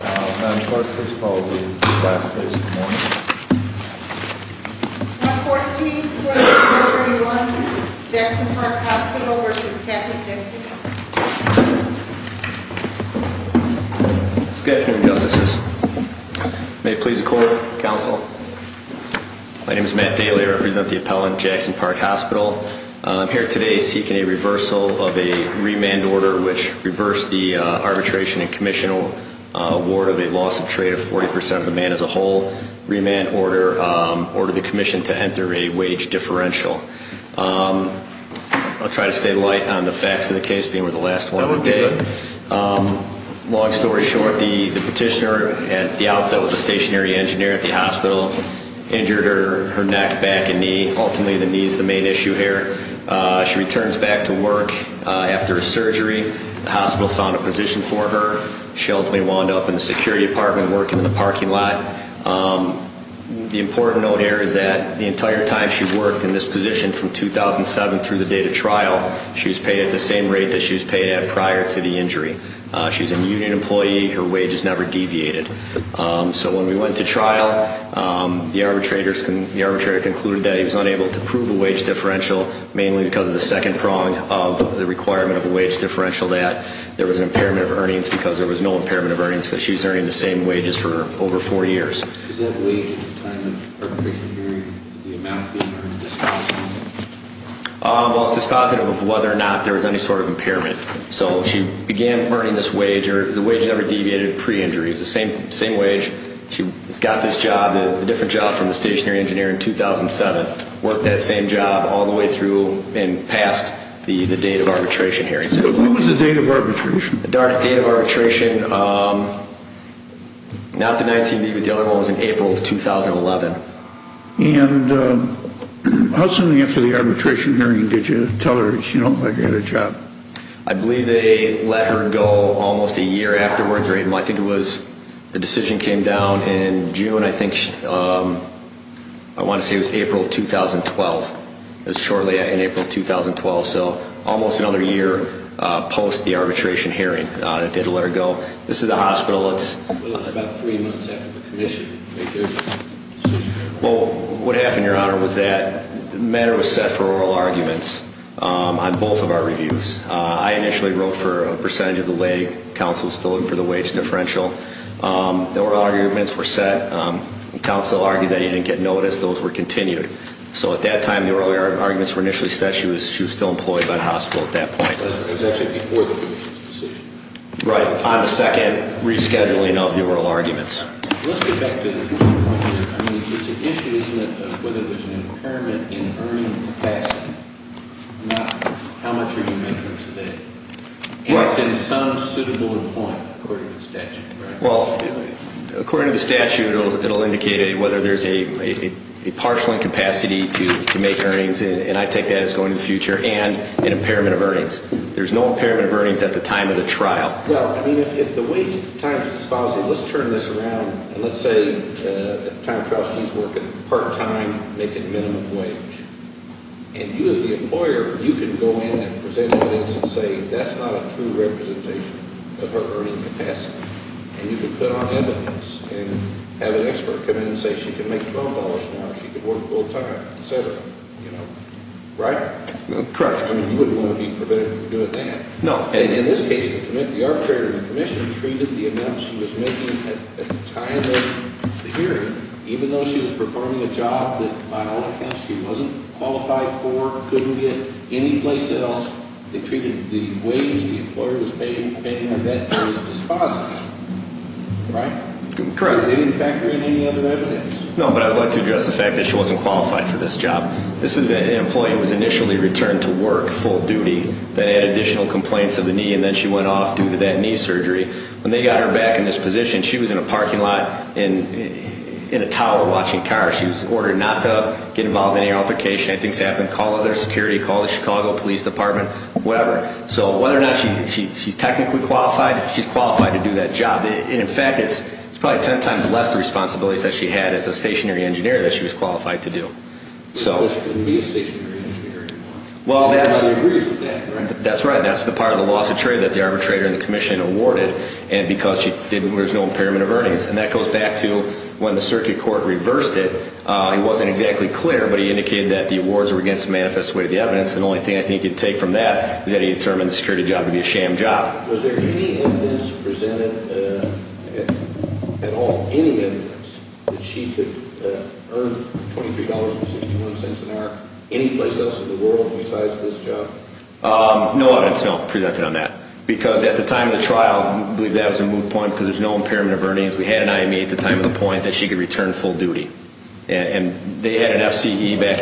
Madam Clerk, please call the class officers to the morning. Class of 2014, Class of 2021, Jackson Park Hospital v. Captain's Deputy. Good afternoon, Justices. May it please the Court, Counsel. My name is Matt Daly. I represent the appellant, Jackson Park Hospital. I'm here today seeking a reversal of a remand order which reversed the arbitration and commission award of a loss of trade of 40% of the man as a whole. Remand order ordered the commission to enter a wage differential. I'll try to stay light on the facts of the case, being we're the last one on the day. Long story short, the petitioner at the outset was a stationary engineer at the hospital, injured her neck, back, and knee. Ultimately, the knee is the main issue here. She returns back to work after a surgery. The hospital found a position for her. She ultimately wound up in the security department working in the parking lot. The important note here is that the entire time she worked in this position from 2007 through the date of trial, she was paid at the same rate that she was paid at prior to the injury. She's a union employee. Her wage has never deviated. So when we went to trial, the arbitrator concluded that he was unable to prove a wage differential, mainly because of the second prong of the requirement of a wage differential, that there was an impairment of earnings because there was no impairment of earnings because she was earning the same wages for over four years. Is that wage at the time of the arbitration hearing the amount being earned as dispositive? Well, it's dispositive of whether or not there was any sort of impairment. So she began earning this wage. The wage never deviated pre-injury. It was the same wage. She got this job, a different job from the stationary engineer in 2007, worked that same job all the way through and past the date of arbitration hearing. What was the date of arbitration? The dark date of arbitration, not the 19th, but the other one was in April of 2011. And how soon after the arbitration hearing did you tell her that she had a job? I believe they let her go almost a year afterwards. I think it was the decision came down in June, I think, I want to say it was April of 2012. It was shortly in April of 2012, so almost another year post the arbitration hearing that they had to let her go. This is the hospital. Well, it's about three months after the commission. Well, what happened, Your Honor, was that the matter was set for oral arguments on both of our reviews. I initially wrote for a percentage of the leg. Counsel was still looking for the wage differential. The oral arguments were set. Counsel argued that he didn't get notice. Those were continued. So at that time, the oral arguments were initially set. She was still employed by the hospital at that point. It was actually before the commission's decision. Right. On the second rescheduling of the oral arguments. Let's get back to the issue. I mean, it's an issue, isn't it, of whether there's an impairment in earning capacity, not how much are you making today? And it's in some suitable point, according to the statute, right? Well, according to the statute, it will indicate whether there's a partial incapacity to make earnings, and I take that as going to the future, and an impairment of earnings. There's no impairment of earnings at the time of the trial. Well, I mean, if the wage at the time of the trial is dispositive, let's turn this around, and let's say at the time of the trial she's working part-time, making minimum wage. And you as the employer, you can go in and present evidence and say that's not a true representation of her earning capacity. And you can put on evidence and have an expert come in and say she can make $12 an hour, she can work full-time, et cetera. You know? Right? Correct. I mean, you wouldn't want to be prevented from doing that. No. And in this case, the arbitrator in the commission treated the amount she was making at the time of the hearing, even though she was performing a job that, by all accounts, she wasn't qualified for, couldn't get anyplace else, they treated the wage the employer was paying, depending on that, as dispositive. Right? Correct. Is there any factor in any other evidence? No, but I'd like to address the fact that she wasn't qualified for this job. This is an employee who was initially returned to work full duty that had additional complaints of the knee, and then she went off due to that knee surgery. When they got her back in this position, she was in a parking lot in a tower watching cars. She was ordered not to get involved in any altercation. Things happen. Call other security. Call the Chicago Police Department. Whatever. So whether or not she's technically qualified, she's qualified to do that job. And, in fact, it's probably ten times less the responsibilities that she had as a stationary engineer that she was qualified to do. So she couldn't be a stationary engineer anymore. Well, that's right. That's the part of the loss of trade that the arbitrator in the commission awarded, and because there was no impairment of earnings. And that goes back to when the circuit court reversed it. It wasn't exactly clear, but he indicated that the awards were against the manifest way of the evidence, and the only thing I think he could take from that is that he determined the security job to be a sham job. Was there any evidence presented at all, any evidence, that she could earn $23.61 an hour anyplace else in the world besides this job? No evidence, no, presented on that. Because at the time of the trial, I believe that was a moot point because there's no impairment of earnings. We had an IME at the time of the point that she could return full duty. And they had an FCE back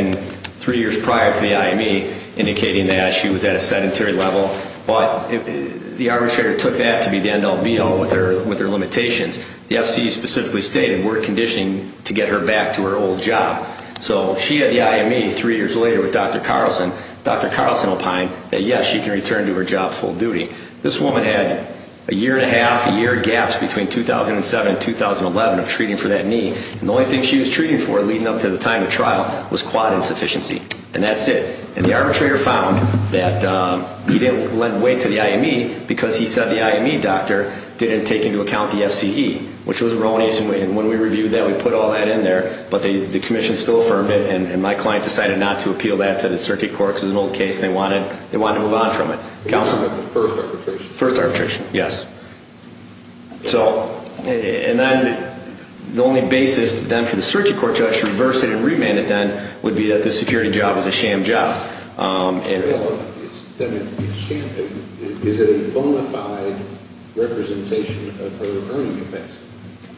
three years prior for the IME indicating that she was at a sedentary level. But the arbitrator took that to be the end all be all with her limitations. The FCE specifically stated we're conditioning to get her back to her old job. So she had the IME three years later with Dr. Carlson. Dr. Carlson opined that, yes, she can return to her job full duty. This woman had a year-and-a-half, a year gap between 2007 and 2011 of treating for that knee. And the only thing she was treating for leading up to the time of the trial was quad insufficiency. And that's it. And the arbitrator found that he didn't lend weight to the IME because he said the IME doctor didn't take into account the FCE, which was erroneous. And when we reviewed that, we put all that in there. But the commission still affirmed it. And my client decided not to appeal that to the circuit court because it was an old case and they wanted to move on from it. Counsel? First arbitration. First arbitration, yes. And then the only basis then for the circuit court judge to reverse it and remand it then would be that the security job was a sham job. Is it a bona fide representation of her earning capacity?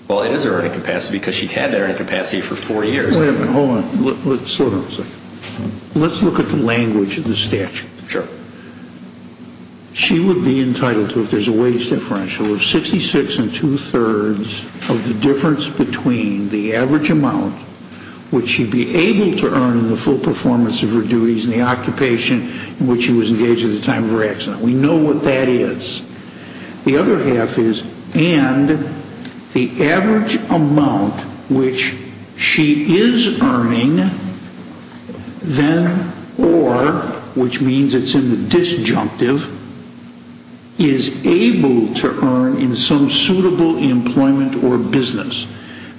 Well, it is her earning capacity because she'd had that earning capacity for four years. Wait a minute. Hold on. Slow down a second. Let's look at the language of the statute. Sure. She would be entitled to, if there's a wage differential, of 66 and two-thirds of the difference between the average amount, which she'd be able to earn in the full performance of her duties and the occupation in which she was engaged at the time of her accident. We know what that is. The other half is and the average amount which she is earning then or, which means it's in the disjunctive, is able to earn in some suitable employment or business.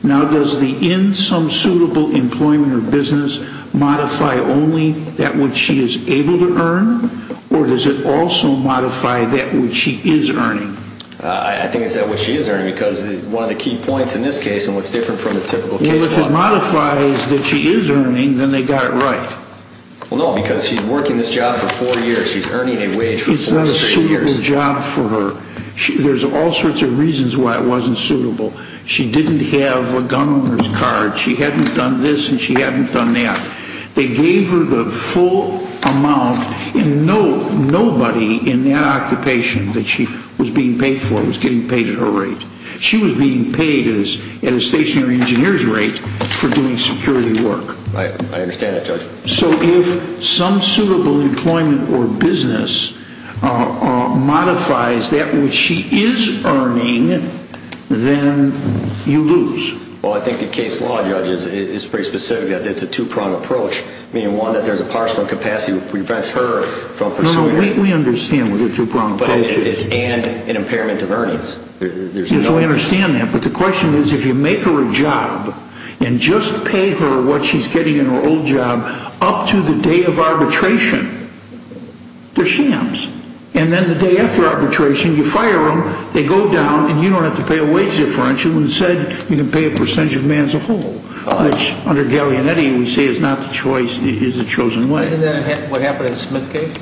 Now, does the in some suitable employment or business modify only that which she is able to earn or does it also modify that which she is earning? I think it's that which she is earning because one of the key points in this case and what's different from the typical case law. Well, if it modifies that she is earning, then they got it right. Well, no, because she's working this job for four years. She's earning a wage for four straight years. It's not a suitable job for her. There's all sorts of reasons why it wasn't suitable. She didn't have a gun on her card. She hadn't done this and she hadn't done that. They gave her the full amount and nobody in that occupation that she was being paid for was getting paid at her rate. She was being paid at a stationary engineer's rate for doing security work. I understand that, Judge. So if some suitable employment or business modifies that which she is earning, then you lose. Well, I think the case law, Judge, is pretty specific that it's a two-pronged approach, meaning one, that there's a parcel of capacity that prevents her from pursuing it. No, no, we understand what a two-pronged approach is. But it's an impairment of earnings. Yes, we understand that. But the question is, if you make her a job and just pay her what she's getting in her old job up to the day of arbitration, they're shams. And then the day after arbitration, you fire them, they go down, and you don't have to pay a wage differential. Instead, you can pay a percentage of man as a whole, which, under Gallianetti, we say is not the choice, is a chosen way. Isn't that what happened in Smith's case?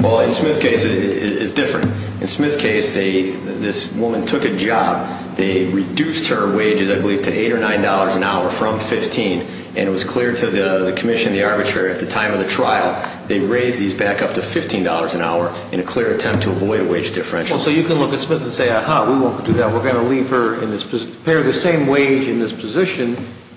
Well, in Smith's case, it's different. In Smith's case, this woman took a job. They reduced her wages, I believe, to $8 or $9 an hour from $15. And it was clear to the commission, the arbitrator, at the time of the trial, they raised these back up to $15 an hour in a clear attempt to avoid a wage differential. Well, so you can look at Smith and say, ah-ha, we won't do that. We're going to leave her in this position, pay her the same wage in this position.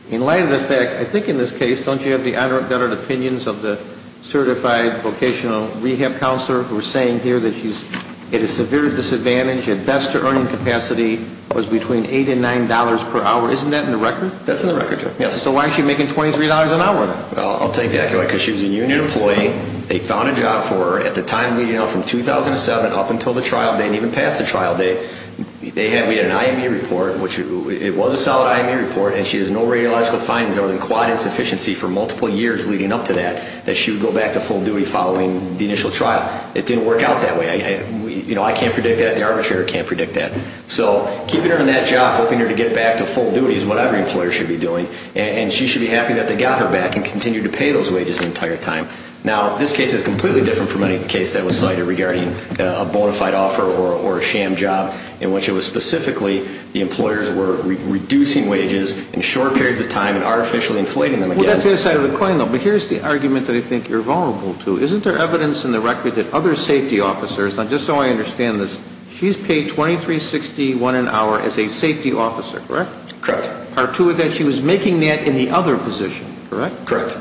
In light of the fact, I think in this case, don't you have the unadulterated opinions of the certified vocational rehab counselor who is saying here that she's at a severe disadvantage? At best, her earning capacity was between $8 and $9 per hour. Isn't that in the record? That's in the record, yes. So why is she making $23 an hour? I'll tell you exactly why. Because she was a union employee. They found a job for her. At the time, you know, from 2007 up until the trial, they didn't even pass the trial. We had an IME report, which it was a solid IME report, and she has no radiological findings other than quad insufficiency for multiple years leading up to that, that she would go back to full duty following the initial trial. It didn't work out that way. You know, I can't predict that. The arbitrator can't predict that. So keeping her in that job, helping her to get back to full duty is what every employer should be doing. And she should be happy that they got her back and continued to pay those wages the entire time. Now, this case is completely different from any case that was cited regarding a bona fide offer or a sham job in which it was specifically the employers were reducing wages in short periods of time and artificially inflating them again. Well, that's the other side of the coin, though. But here's the argument that I think you're vulnerable to. Isn't there evidence in the record that other safety officers, and just so I understand this, she's paid $23.61 an hour as a safety officer, correct? Correct. Part two of that, she was making that in the other position, correct? Correct.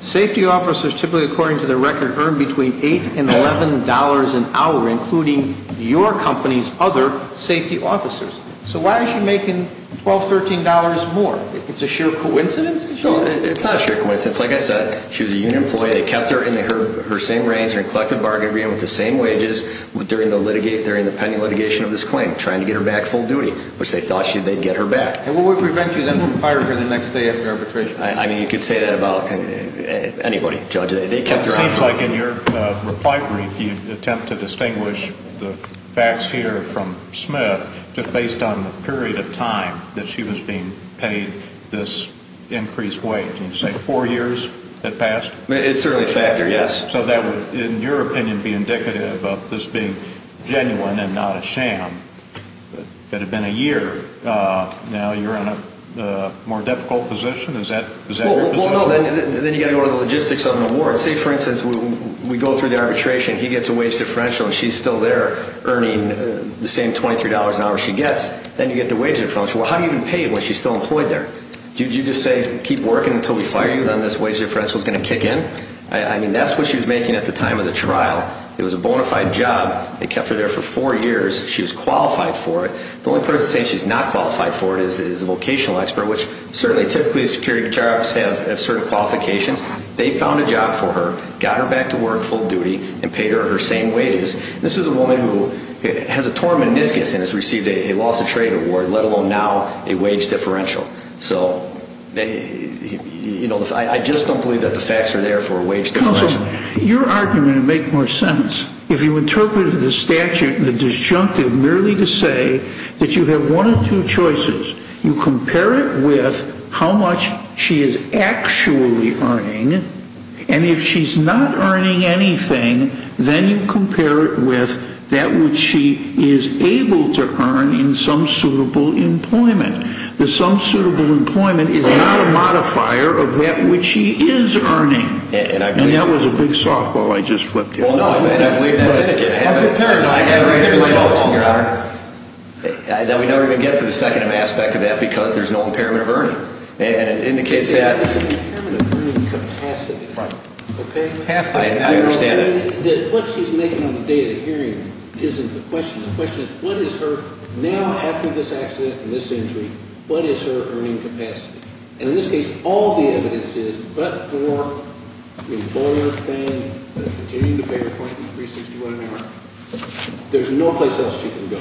Safety officers typically, according to the record, earn between $8 and $11 an hour, including your company's other safety officers. So why is she making $12, $13 more? It's a sheer coincidence? No, it's not a sheer coincidence. Like I said, she was a union employee. They kept her in her same range, her collective bargain agreement with the same wages during the pending litigation of this claim, trying to get her back full duty, which they thought they'd get her back. And what would prevent you then from firing her the next day after arbitration? I mean, you could say that about anybody, Judge. It seems like in your reply brief, you attempt to distinguish the facts here from Smith, just based on the period of time that she was being paid this increased wage. Can you say four years had passed? It's certainly a factor, yes. So that would, in your opinion, be indicative of this being genuine and not a sham. That had been a year. Now you're in a more difficult position? Is that your position? Well, no. Then you've got to go to the logistics on the board. Say, for instance, we go through the arbitration. He gets a wage differential, and she's still there earning the same $23 an hour she gets. Then you get the wage differential. Well, how do you even pay it when she's still employed there? Do you just say, keep working until we fire you? Then this wage differential is going to kick in? I mean, that's what she was making at the time of the trial. It was a bona fide job. They kept her there for four years. She was qualified for it. The only person saying she's not qualified for it is a vocational expert, which certainly typically security charge have certain qualifications. They found a job for her, got her back to work full duty, and paid her her same wages. This is a woman who has a torn meniscus and has received a loss of trade award, let alone now a wage differential. So, you know, I just don't believe that the facts are there for a wage differential. Counsel, your argument would make more sense if you interpreted the statute and the disjunctive merely to say that you have one of two choices. You compare it with how much she is actually earning, and if she's not earning anything, then you compare it with that which she is able to earn in some suitable employment. The some suitable employment is not a modifier of that which she is earning. And that was a big softball I just flipped you. Well, no, I mean, I believe that's etiquette. I haven't compared it. No, I haven't compared it with softball, Your Honor. Then we never even get to the second aspect of that because there's no impairment of earning. And it indicates that... It's an impairment of earning capacity. Right. Okay? I understand that. What she's making on the day of the hearing isn't the question. The question is what is her, now after this accident and this injury, what is her earning capacity? And in this case, all the evidence is but for the employer paying, continuing to pay her $23.61 an hour, there's no place else she can go.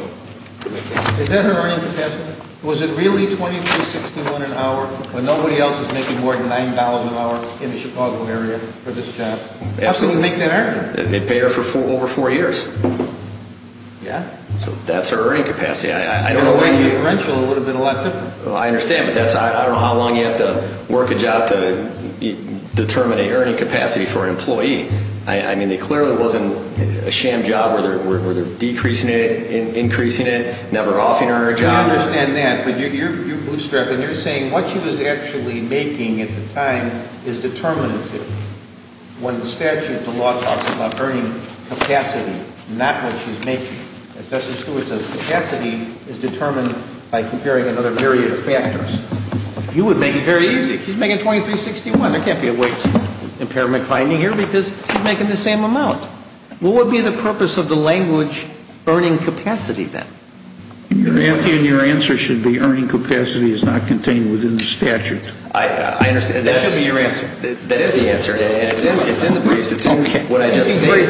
Is that her earning capacity? Was it really $23.61 an hour when nobody else is making more than $9 an hour in the Chicago area for this job? Absolutely. How can we make that earn? They paid her for over four years. Yeah? So that's her earning capacity. I don't know what you... If it were differential, it would have been a lot different. I understand, but I don't know how long you have to work a job to determine an earning capacity for an employee. I mean, it clearly wasn't a sham job where they're decreasing it, increasing it, never offering her a job. I understand that, but you're bootstrapping. You're saying what she was actually making at the time is determinative. When the statute, the law, talks about earning capacity, not what she's making. As Justice Stewart says, capacity is determined by comparing another variety of factors. You would make it very easy. She's making $23.61. There can't be a waste impairment finding here because she's making the same amount. What would be the purpose of the language, earning capacity, then? Your answer should be earning capacity is not contained within the statute. I understand. That should be your answer. That is the answer. It's in the briefs. It's in what I just stated.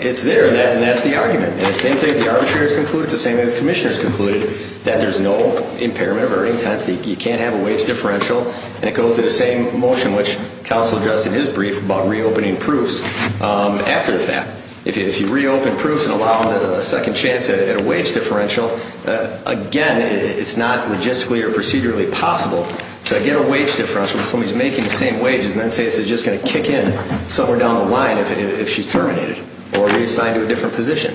It's there, and that's the argument. The same thing the arbitrators concluded, the same thing the commissioners concluded, that there's no impairment of earning capacity. You can't have a wage differential, and it goes to the same motion which counsel addressed in his brief about reopening proofs after the fact. If you reopen proofs and allow them a second chance at a wage differential, again, it's not logistically or procedurally possible to get a wage differential if somebody's making the same wages and then says they're just going to kick in somewhere down the line if she's terminated or reassigned to a different position.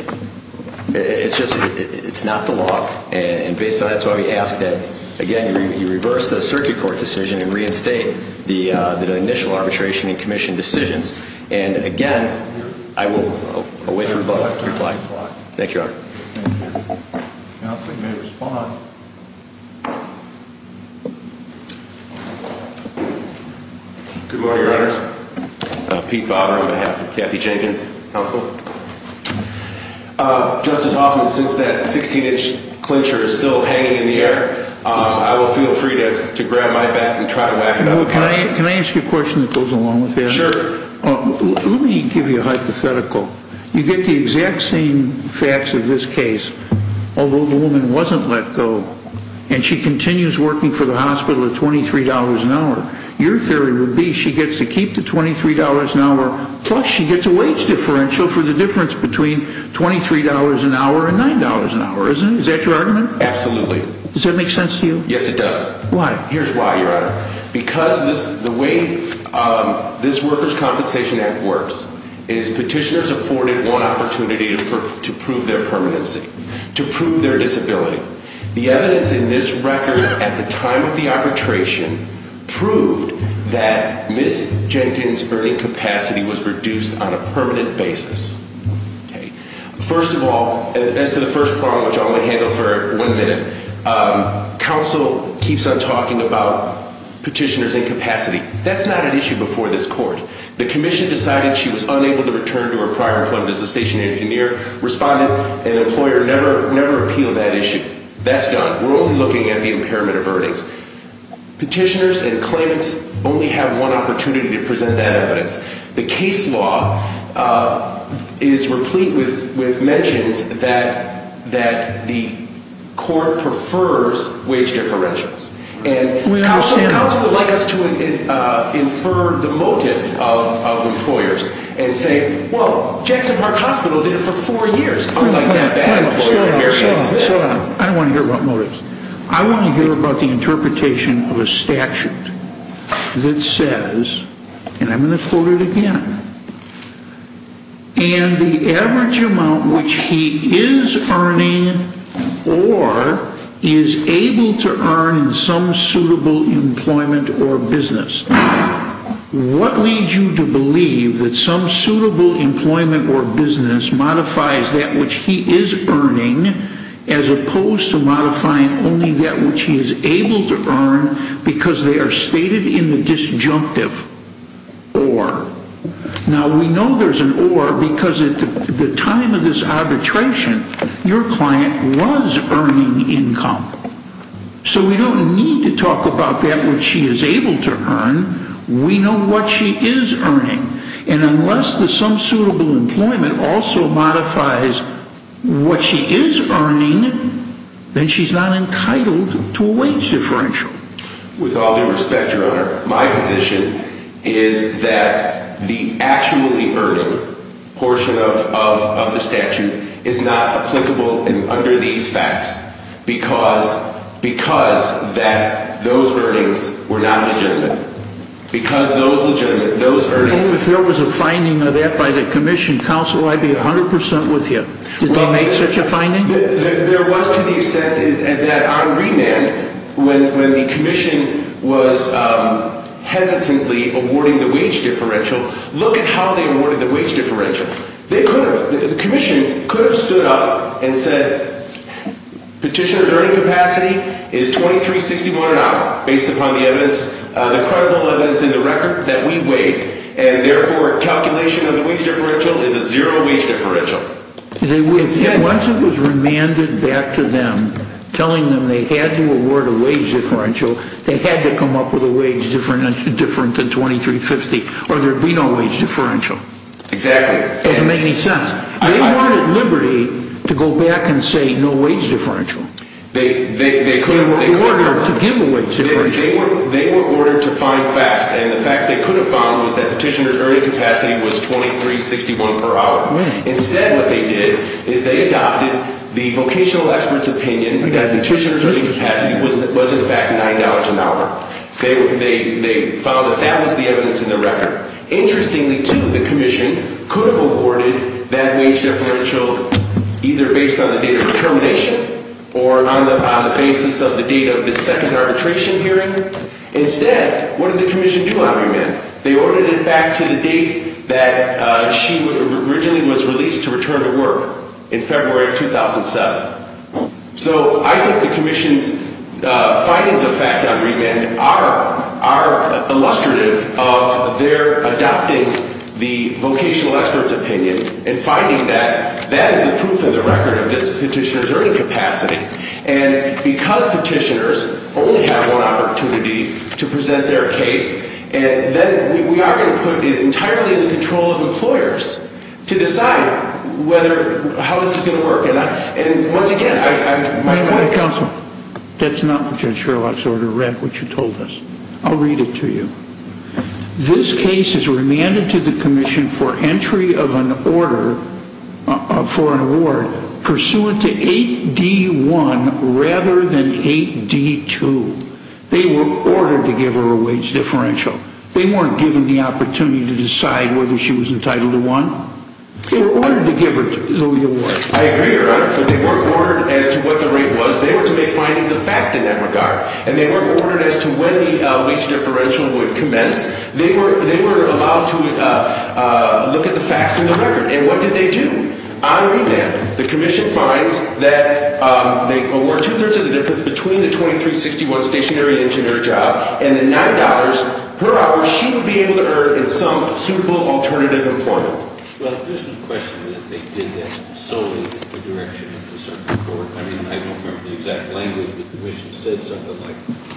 It's not the law. And based on that, that's why we ask that, again, you reverse the circuit court decision and reinstate the initial arbitration and commission decisions. And, again, I will wait for your reply. Thank you, Your Honor. Thank you. Counsel may respond. Good morning, Your Honor. Pete Bobber on behalf of Kathy Jenkins. Counsel? Justice Hoffman, since that 16-inch clincher is still hanging in the air, I will feel free to grab my bat and try to whack it out. Can I ask you a question that goes along with that? Sure. Let me give you a hypothetical. You get the exact same facts of this case, although the woman wasn't let go and she continues working for the hospital at $23 an hour. Your theory would be she gets to keep the $23 an hour, plus she gets a wage differential for the difference between $23 an hour and $9 an hour, isn't it? Is that your argument? Absolutely. Does that make sense to you? Yes, it does. Why? Here's why, Your Honor. Because the way this Workers' Compensation Act works is petitioners are afforded one opportunity to prove their permanency, to prove their disability. The evidence in this record at the time of the arbitration proved that Ms. Jenkins' earning capacity was reduced on a permanent basis. First of all, as to the first problem, which I'm going to handle for one minute, counsel keeps on talking about petitioners' incapacity. That's not an issue before this court. The commission decided she was unable to return to her prior employment as a station engineer, responded, and the employer never appealed that issue. That's gone. We're only looking at the impairment of earnings. Petitioners and claimants only have one opportunity to present that evidence. The case law is replete with mentions that the court prefers wage differentials. Counsel would like us to infer the motive of employers and say, well, Jackson Park Hospital did it for four years. I don't want to hear about motives. I want to hear about the interpretation of a statute that says, and I'm going to quote it again, and the average amount which he is earning or is able to earn in some suitable employment or business. What leads you to believe that some suitable employment or business modifies that which he is earning, as opposed to modifying only that which he is able to earn because they are stated in the disjunctive or. Now, we know there's an or because at the time of this arbitration, your client was earning income. So we don't need to talk about that which she is able to earn. We know what she is earning. And unless there's some suitable employment also modifies what she is earning, then she's not entitled to a wage differential. With all due respect, Your Honor, my position is that the actually earning portion of the statute is not applicable under these facts because those earnings were not legitimate. If there was a finding of that by the Commission, Counsel, I'd be 100 percent with you. Did they make such a finding? There was to the extent that on remand, when the Commission was hesitantly awarding the wage differential, look at how they awarded the wage differential. The Commission could have stood up and said, Petitioner's earning capacity is $2361 an hour, based upon the credible evidence in the record that we weighed, and therefore calculation of the wage differential is a zero wage differential. Once it was remanded back to them, telling them they had to award a wage differential, they had to come up with a wage differential different than $2350, or there would be no wage differential. Exactly. It doesn't make any sense. They weren't at liberty to go back and say no wage differential. They could have. They were ordered to give a wage differential. They were ordered to find facts, and the fact they could have found was that Petitioner's earning capacity was $2361 per hour. Right. Instead what they did is they adopted the vocational expert's opinion that Petitioner's earning capacity was in fact $9 an hour. They found that that was the evidence in the record. Interestingly, too, the Commission could have awarded that wage differential either based on the date of determination or on the basis of the date of the second arbitration hearing. Instead, what did the Commission do on remand? They ordered it back to the date that she originally was released to return to work in February of 2007. So I think the Commission's findings of fact on remand are illustrative of their adopting the vocational expert's opinion and finding that that is the proof in the record of this Petitioner's earning capacity. And because Petitioners only have one opportunity to present their case, then we are going to put it entirely in the control of employers to decide how this is going to work. And once again, I... Counselor, that's not what Judge Sherlock's order read, what you told us. I'll read it to you. This case is remanded to the Commission for entry of an order for an award pursuant to 8D1 rather than 8D2. They were ordered to give her a wage differential. They weren't given the opportunity to decide whether she was entitled to one. They were ordered to give her the award. I agree, Your Honor, but they weren't ordered as to what the rate was. They were to make findings of fact in that regard. And they weren't ordered as to when the wage differential would commence. They were allowed to look at the facts in the record. And what did they do? On remand, the Commission finds that they award two-thirds of the difference between the $23.61 stationary engineer job and the $9 per hour she would be able to earn in some suitable alternative employment. Well, there's no question that they did that solely in the direction of the circuit court. I mean, I don't remember the exact language, but the Commission said something like,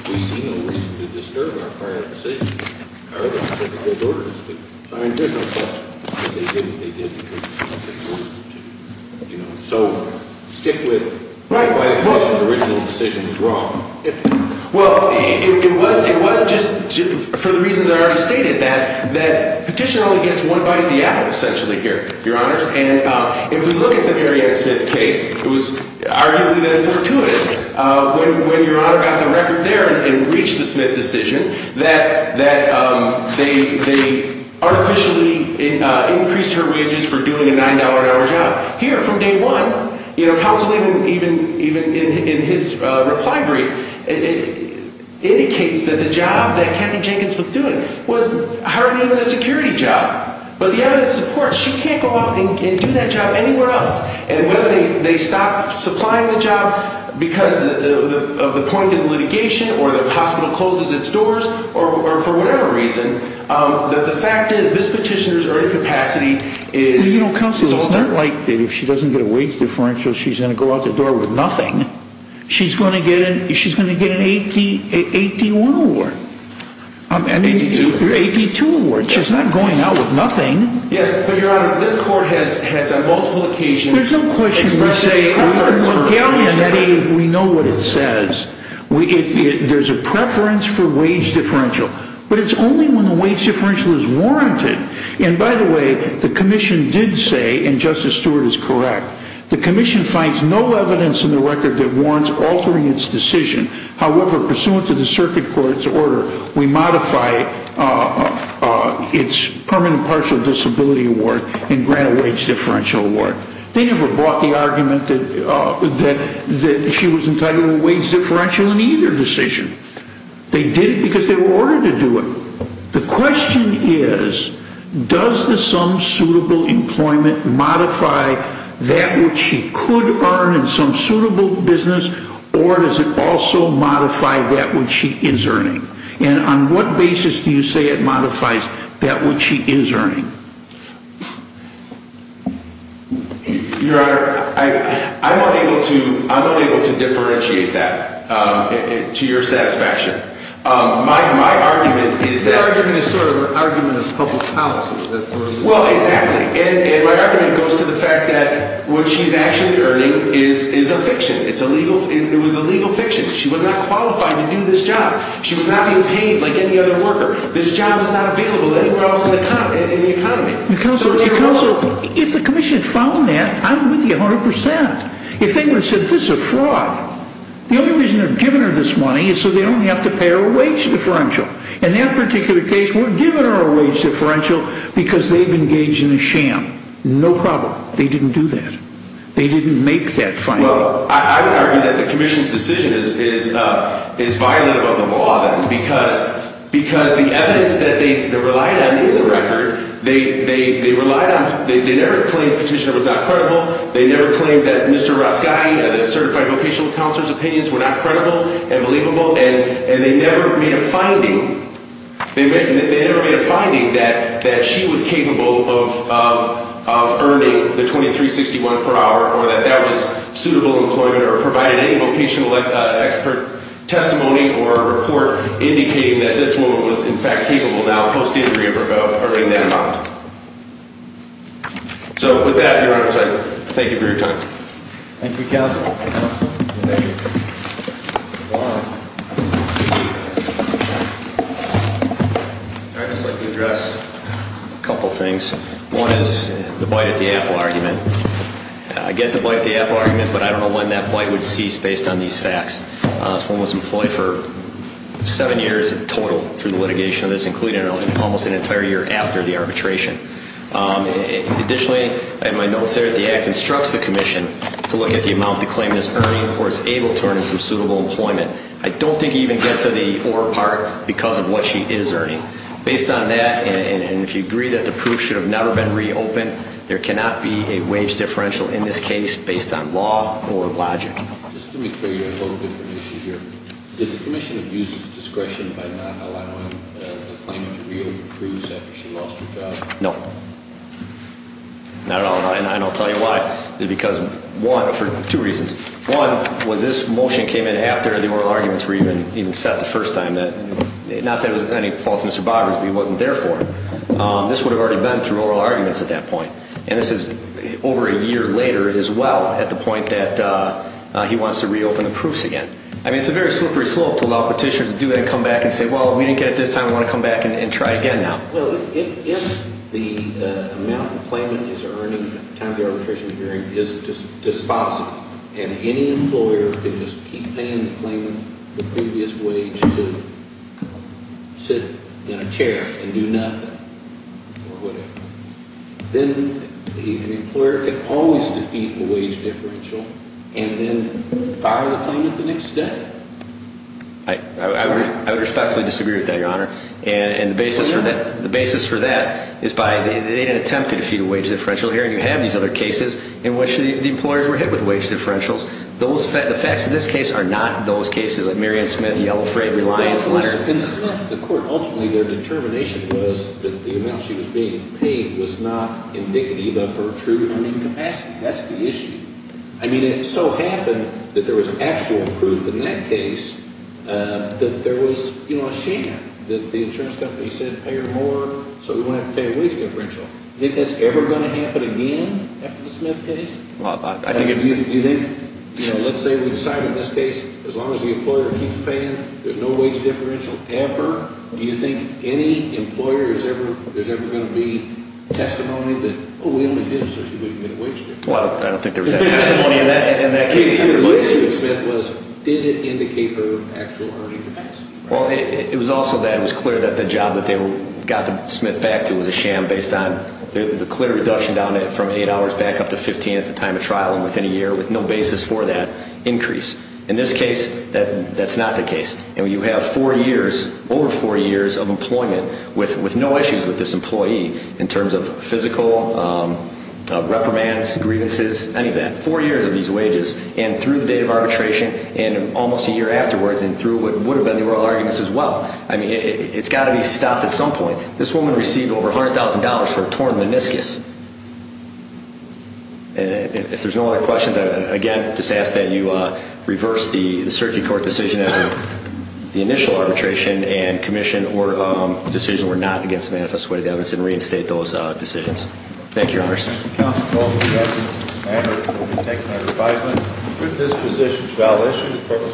we see no reason to disturb our prior decisions. I mean, there's no question that they did what they did because they were ordered to. You know, so stick with the original decision is wrong. Well, it was just for the reason that I already stated, that petitioner only gets one bite of the apple, essentially, here, Your Honors. And if we look at the Mary Ann Smith case, it was arguably then fortuitous, when Your Honor got the record there and reached the Smith decision, that they artificially increased her wages for doing a $9 an hour job. Here, from day one, you know, counsel even in his reply brief, indicates that the job that Kathy Jenkins was doing was hardly even a security job. But the evidence supports she can't go out and do that job anywhere else. And whether they stop supplying the job because of the point of litigation, or the hospital closes its doors, or for whatever reason, the fact is this petitioner's earned capacity is altered. Well, you know, counsel, it's not like if she doesn't get a wage differential, she's going to go out the door with nothing. She's going to get an AP1 award. AP2. AP2 award. She's not going out with nothing. Yes, but Your Honor, this court has on multiple occasions expressed its preference for wage differential. There's no question we say, we know what it says. There's a preference for wage differential. But it's only when the wage differential is warranted. And by the way, the commission did say, and Justice Stewart is correct, the commission finds no evidence in the record that warrants altering its decision. However, pursuant to the circuit court's order, we modify its permanent partial disability award and grant a wage differential award. They never brought the argument that she was entitled to a wage differential in either decision. They did it because they were ordered to do it. So the question is, does the sum suitable employment modify that which she could earn in some suitable business, or does it also modify that which she is earning? And on what basis do you say it modifies that which she is earning? Your Honor, I'm unable to differentiate that to your satisfaction. My argument is that. Your argument is sort of an argument of public policy. Well, exactly. And my argument goes to the fact that what she's actually earning is a fiction. It was a legal fiction. She was not qualified to do this job. She was not being paid like any other worker. This job is not available anywhere else in the economy. Counsel, if the commission found that, I'm with you 100%. If they would have said, this is a fraud. The only reason they're giving her this money is so they don't have to pay her a wage differential. In that particular case, we're giving her a wage differential because they've engaged in a sham. No problem. They didn't do that. They didn't make that finding. Well, I would argue that the commission's decision is violent about the law, then, because the evidence that they relied on in the record, they never claimed the petitioner was not credible. They never claimed that Mr. Rascai, the certified vocational counselor's opinions were not credible and believable. And they never made a finding. They never made a finding that she was capable of earning the $23.61 per hour or that that was suitable employment or provided any vocational expert testimony or report indicating that this woman was, in fact, capable now, post-injury, of earning that amount. So, with that, Your Honor, I thank you for your time. Thank you, counsel. I'd just like to address a couple things. One is the bite at the apple argument. I get the bite at the apple argument, but I don't know when that bite would cease based on these facts. This woman was employed for seven years in total through the litigation of this, including almost an entire year after the arbitration. Additionally, I have my notes there that the act instructs the commission to look at the amount the claimant is earning or is able to earn in some suitable employment. I don't think you even get to the or part because of what she is earning. Based on that, and if you agree that the proof should have never been reopened, there cannot be a wage differential in this case based on law or logic. Just let me clear you a little bit from the issue here. Did the commission abuse its discretion by not allowing the claimant to reapprove after she lost her job? No. And I'll tell you why. Because, one, for two reasons. One, was this motion came in after the oral arguments were even set the first time. Not that it was any fault of Mr. Bobber's, but he wasn't there for it. This would have already been through oral arguments at that point. And this is over a year later as well at the point that he wants to reopen the proofs again. I mean, it's a very slippery slope to allow petitioners to do that and come back and say, well, we didn't get it this time, we want to come back and try again now. Well, if the amount the claimant is earning at the time of the arbitration hearing is dispositive and any employer can just keep paying the claimant the previous wage to sit in a chair and do nothing or whatever, then the employer can always defeat the wage differential and then fire the claimant the next day. I would respectfully disagree with that, Your Honor. And the basis for that is they didn't attempt to defeat a wage differential hearing. You have these other cases in which the employers were hit with wage differentials. The facts of this case are not those cases like Merriam-Smith, Yellow Freight, Reliance, Leonard. In Smith, the court ultimately, their determination was that the amount she was being paid was not indicative of her true earning capacity. That's the issue. I mean, it so happened that there was actual proof in that case that there was a sham that the insurance company said, pay her more so we won't have to pay a wage differential. Do you think that's ever going to happen again after the Smith case? I think it will. Let's say we decide in this case as long as the employer keeps paying, there's no wage differential ever. Do you think any employer is ever going to be testimony that, oh, we only did it so she wouldn't get a wage differential? Well, I don't think there was that testimony in that case either. The question of Smith was, did it indicate her actual earning capacity? Well, it was also that it was clear that the job that they got Smith back to was a sham based on the clear reduction down from 8 hours back up to 15 at the time of trial and within a year with no basis for that increase. In this case, that's not the case. You have four years, over four years of employment with no issues with this employee in terms of physical reprimands, grievances, any of that. Four years of these wages and through the date of arbitration and almost a year afterwards and through what would have been the oral arguments as well. I mean, it's got to be stopped at some point. This woman received over $100,000 for a torn meniscus. And if there's no other questions, I again just ask that you reverse the circuit court decision as the initial arbitration and commission or decision were not against the manifest way of evidence and reinstate those decisions. Thank you, Your Honor. Counsel. Thank you.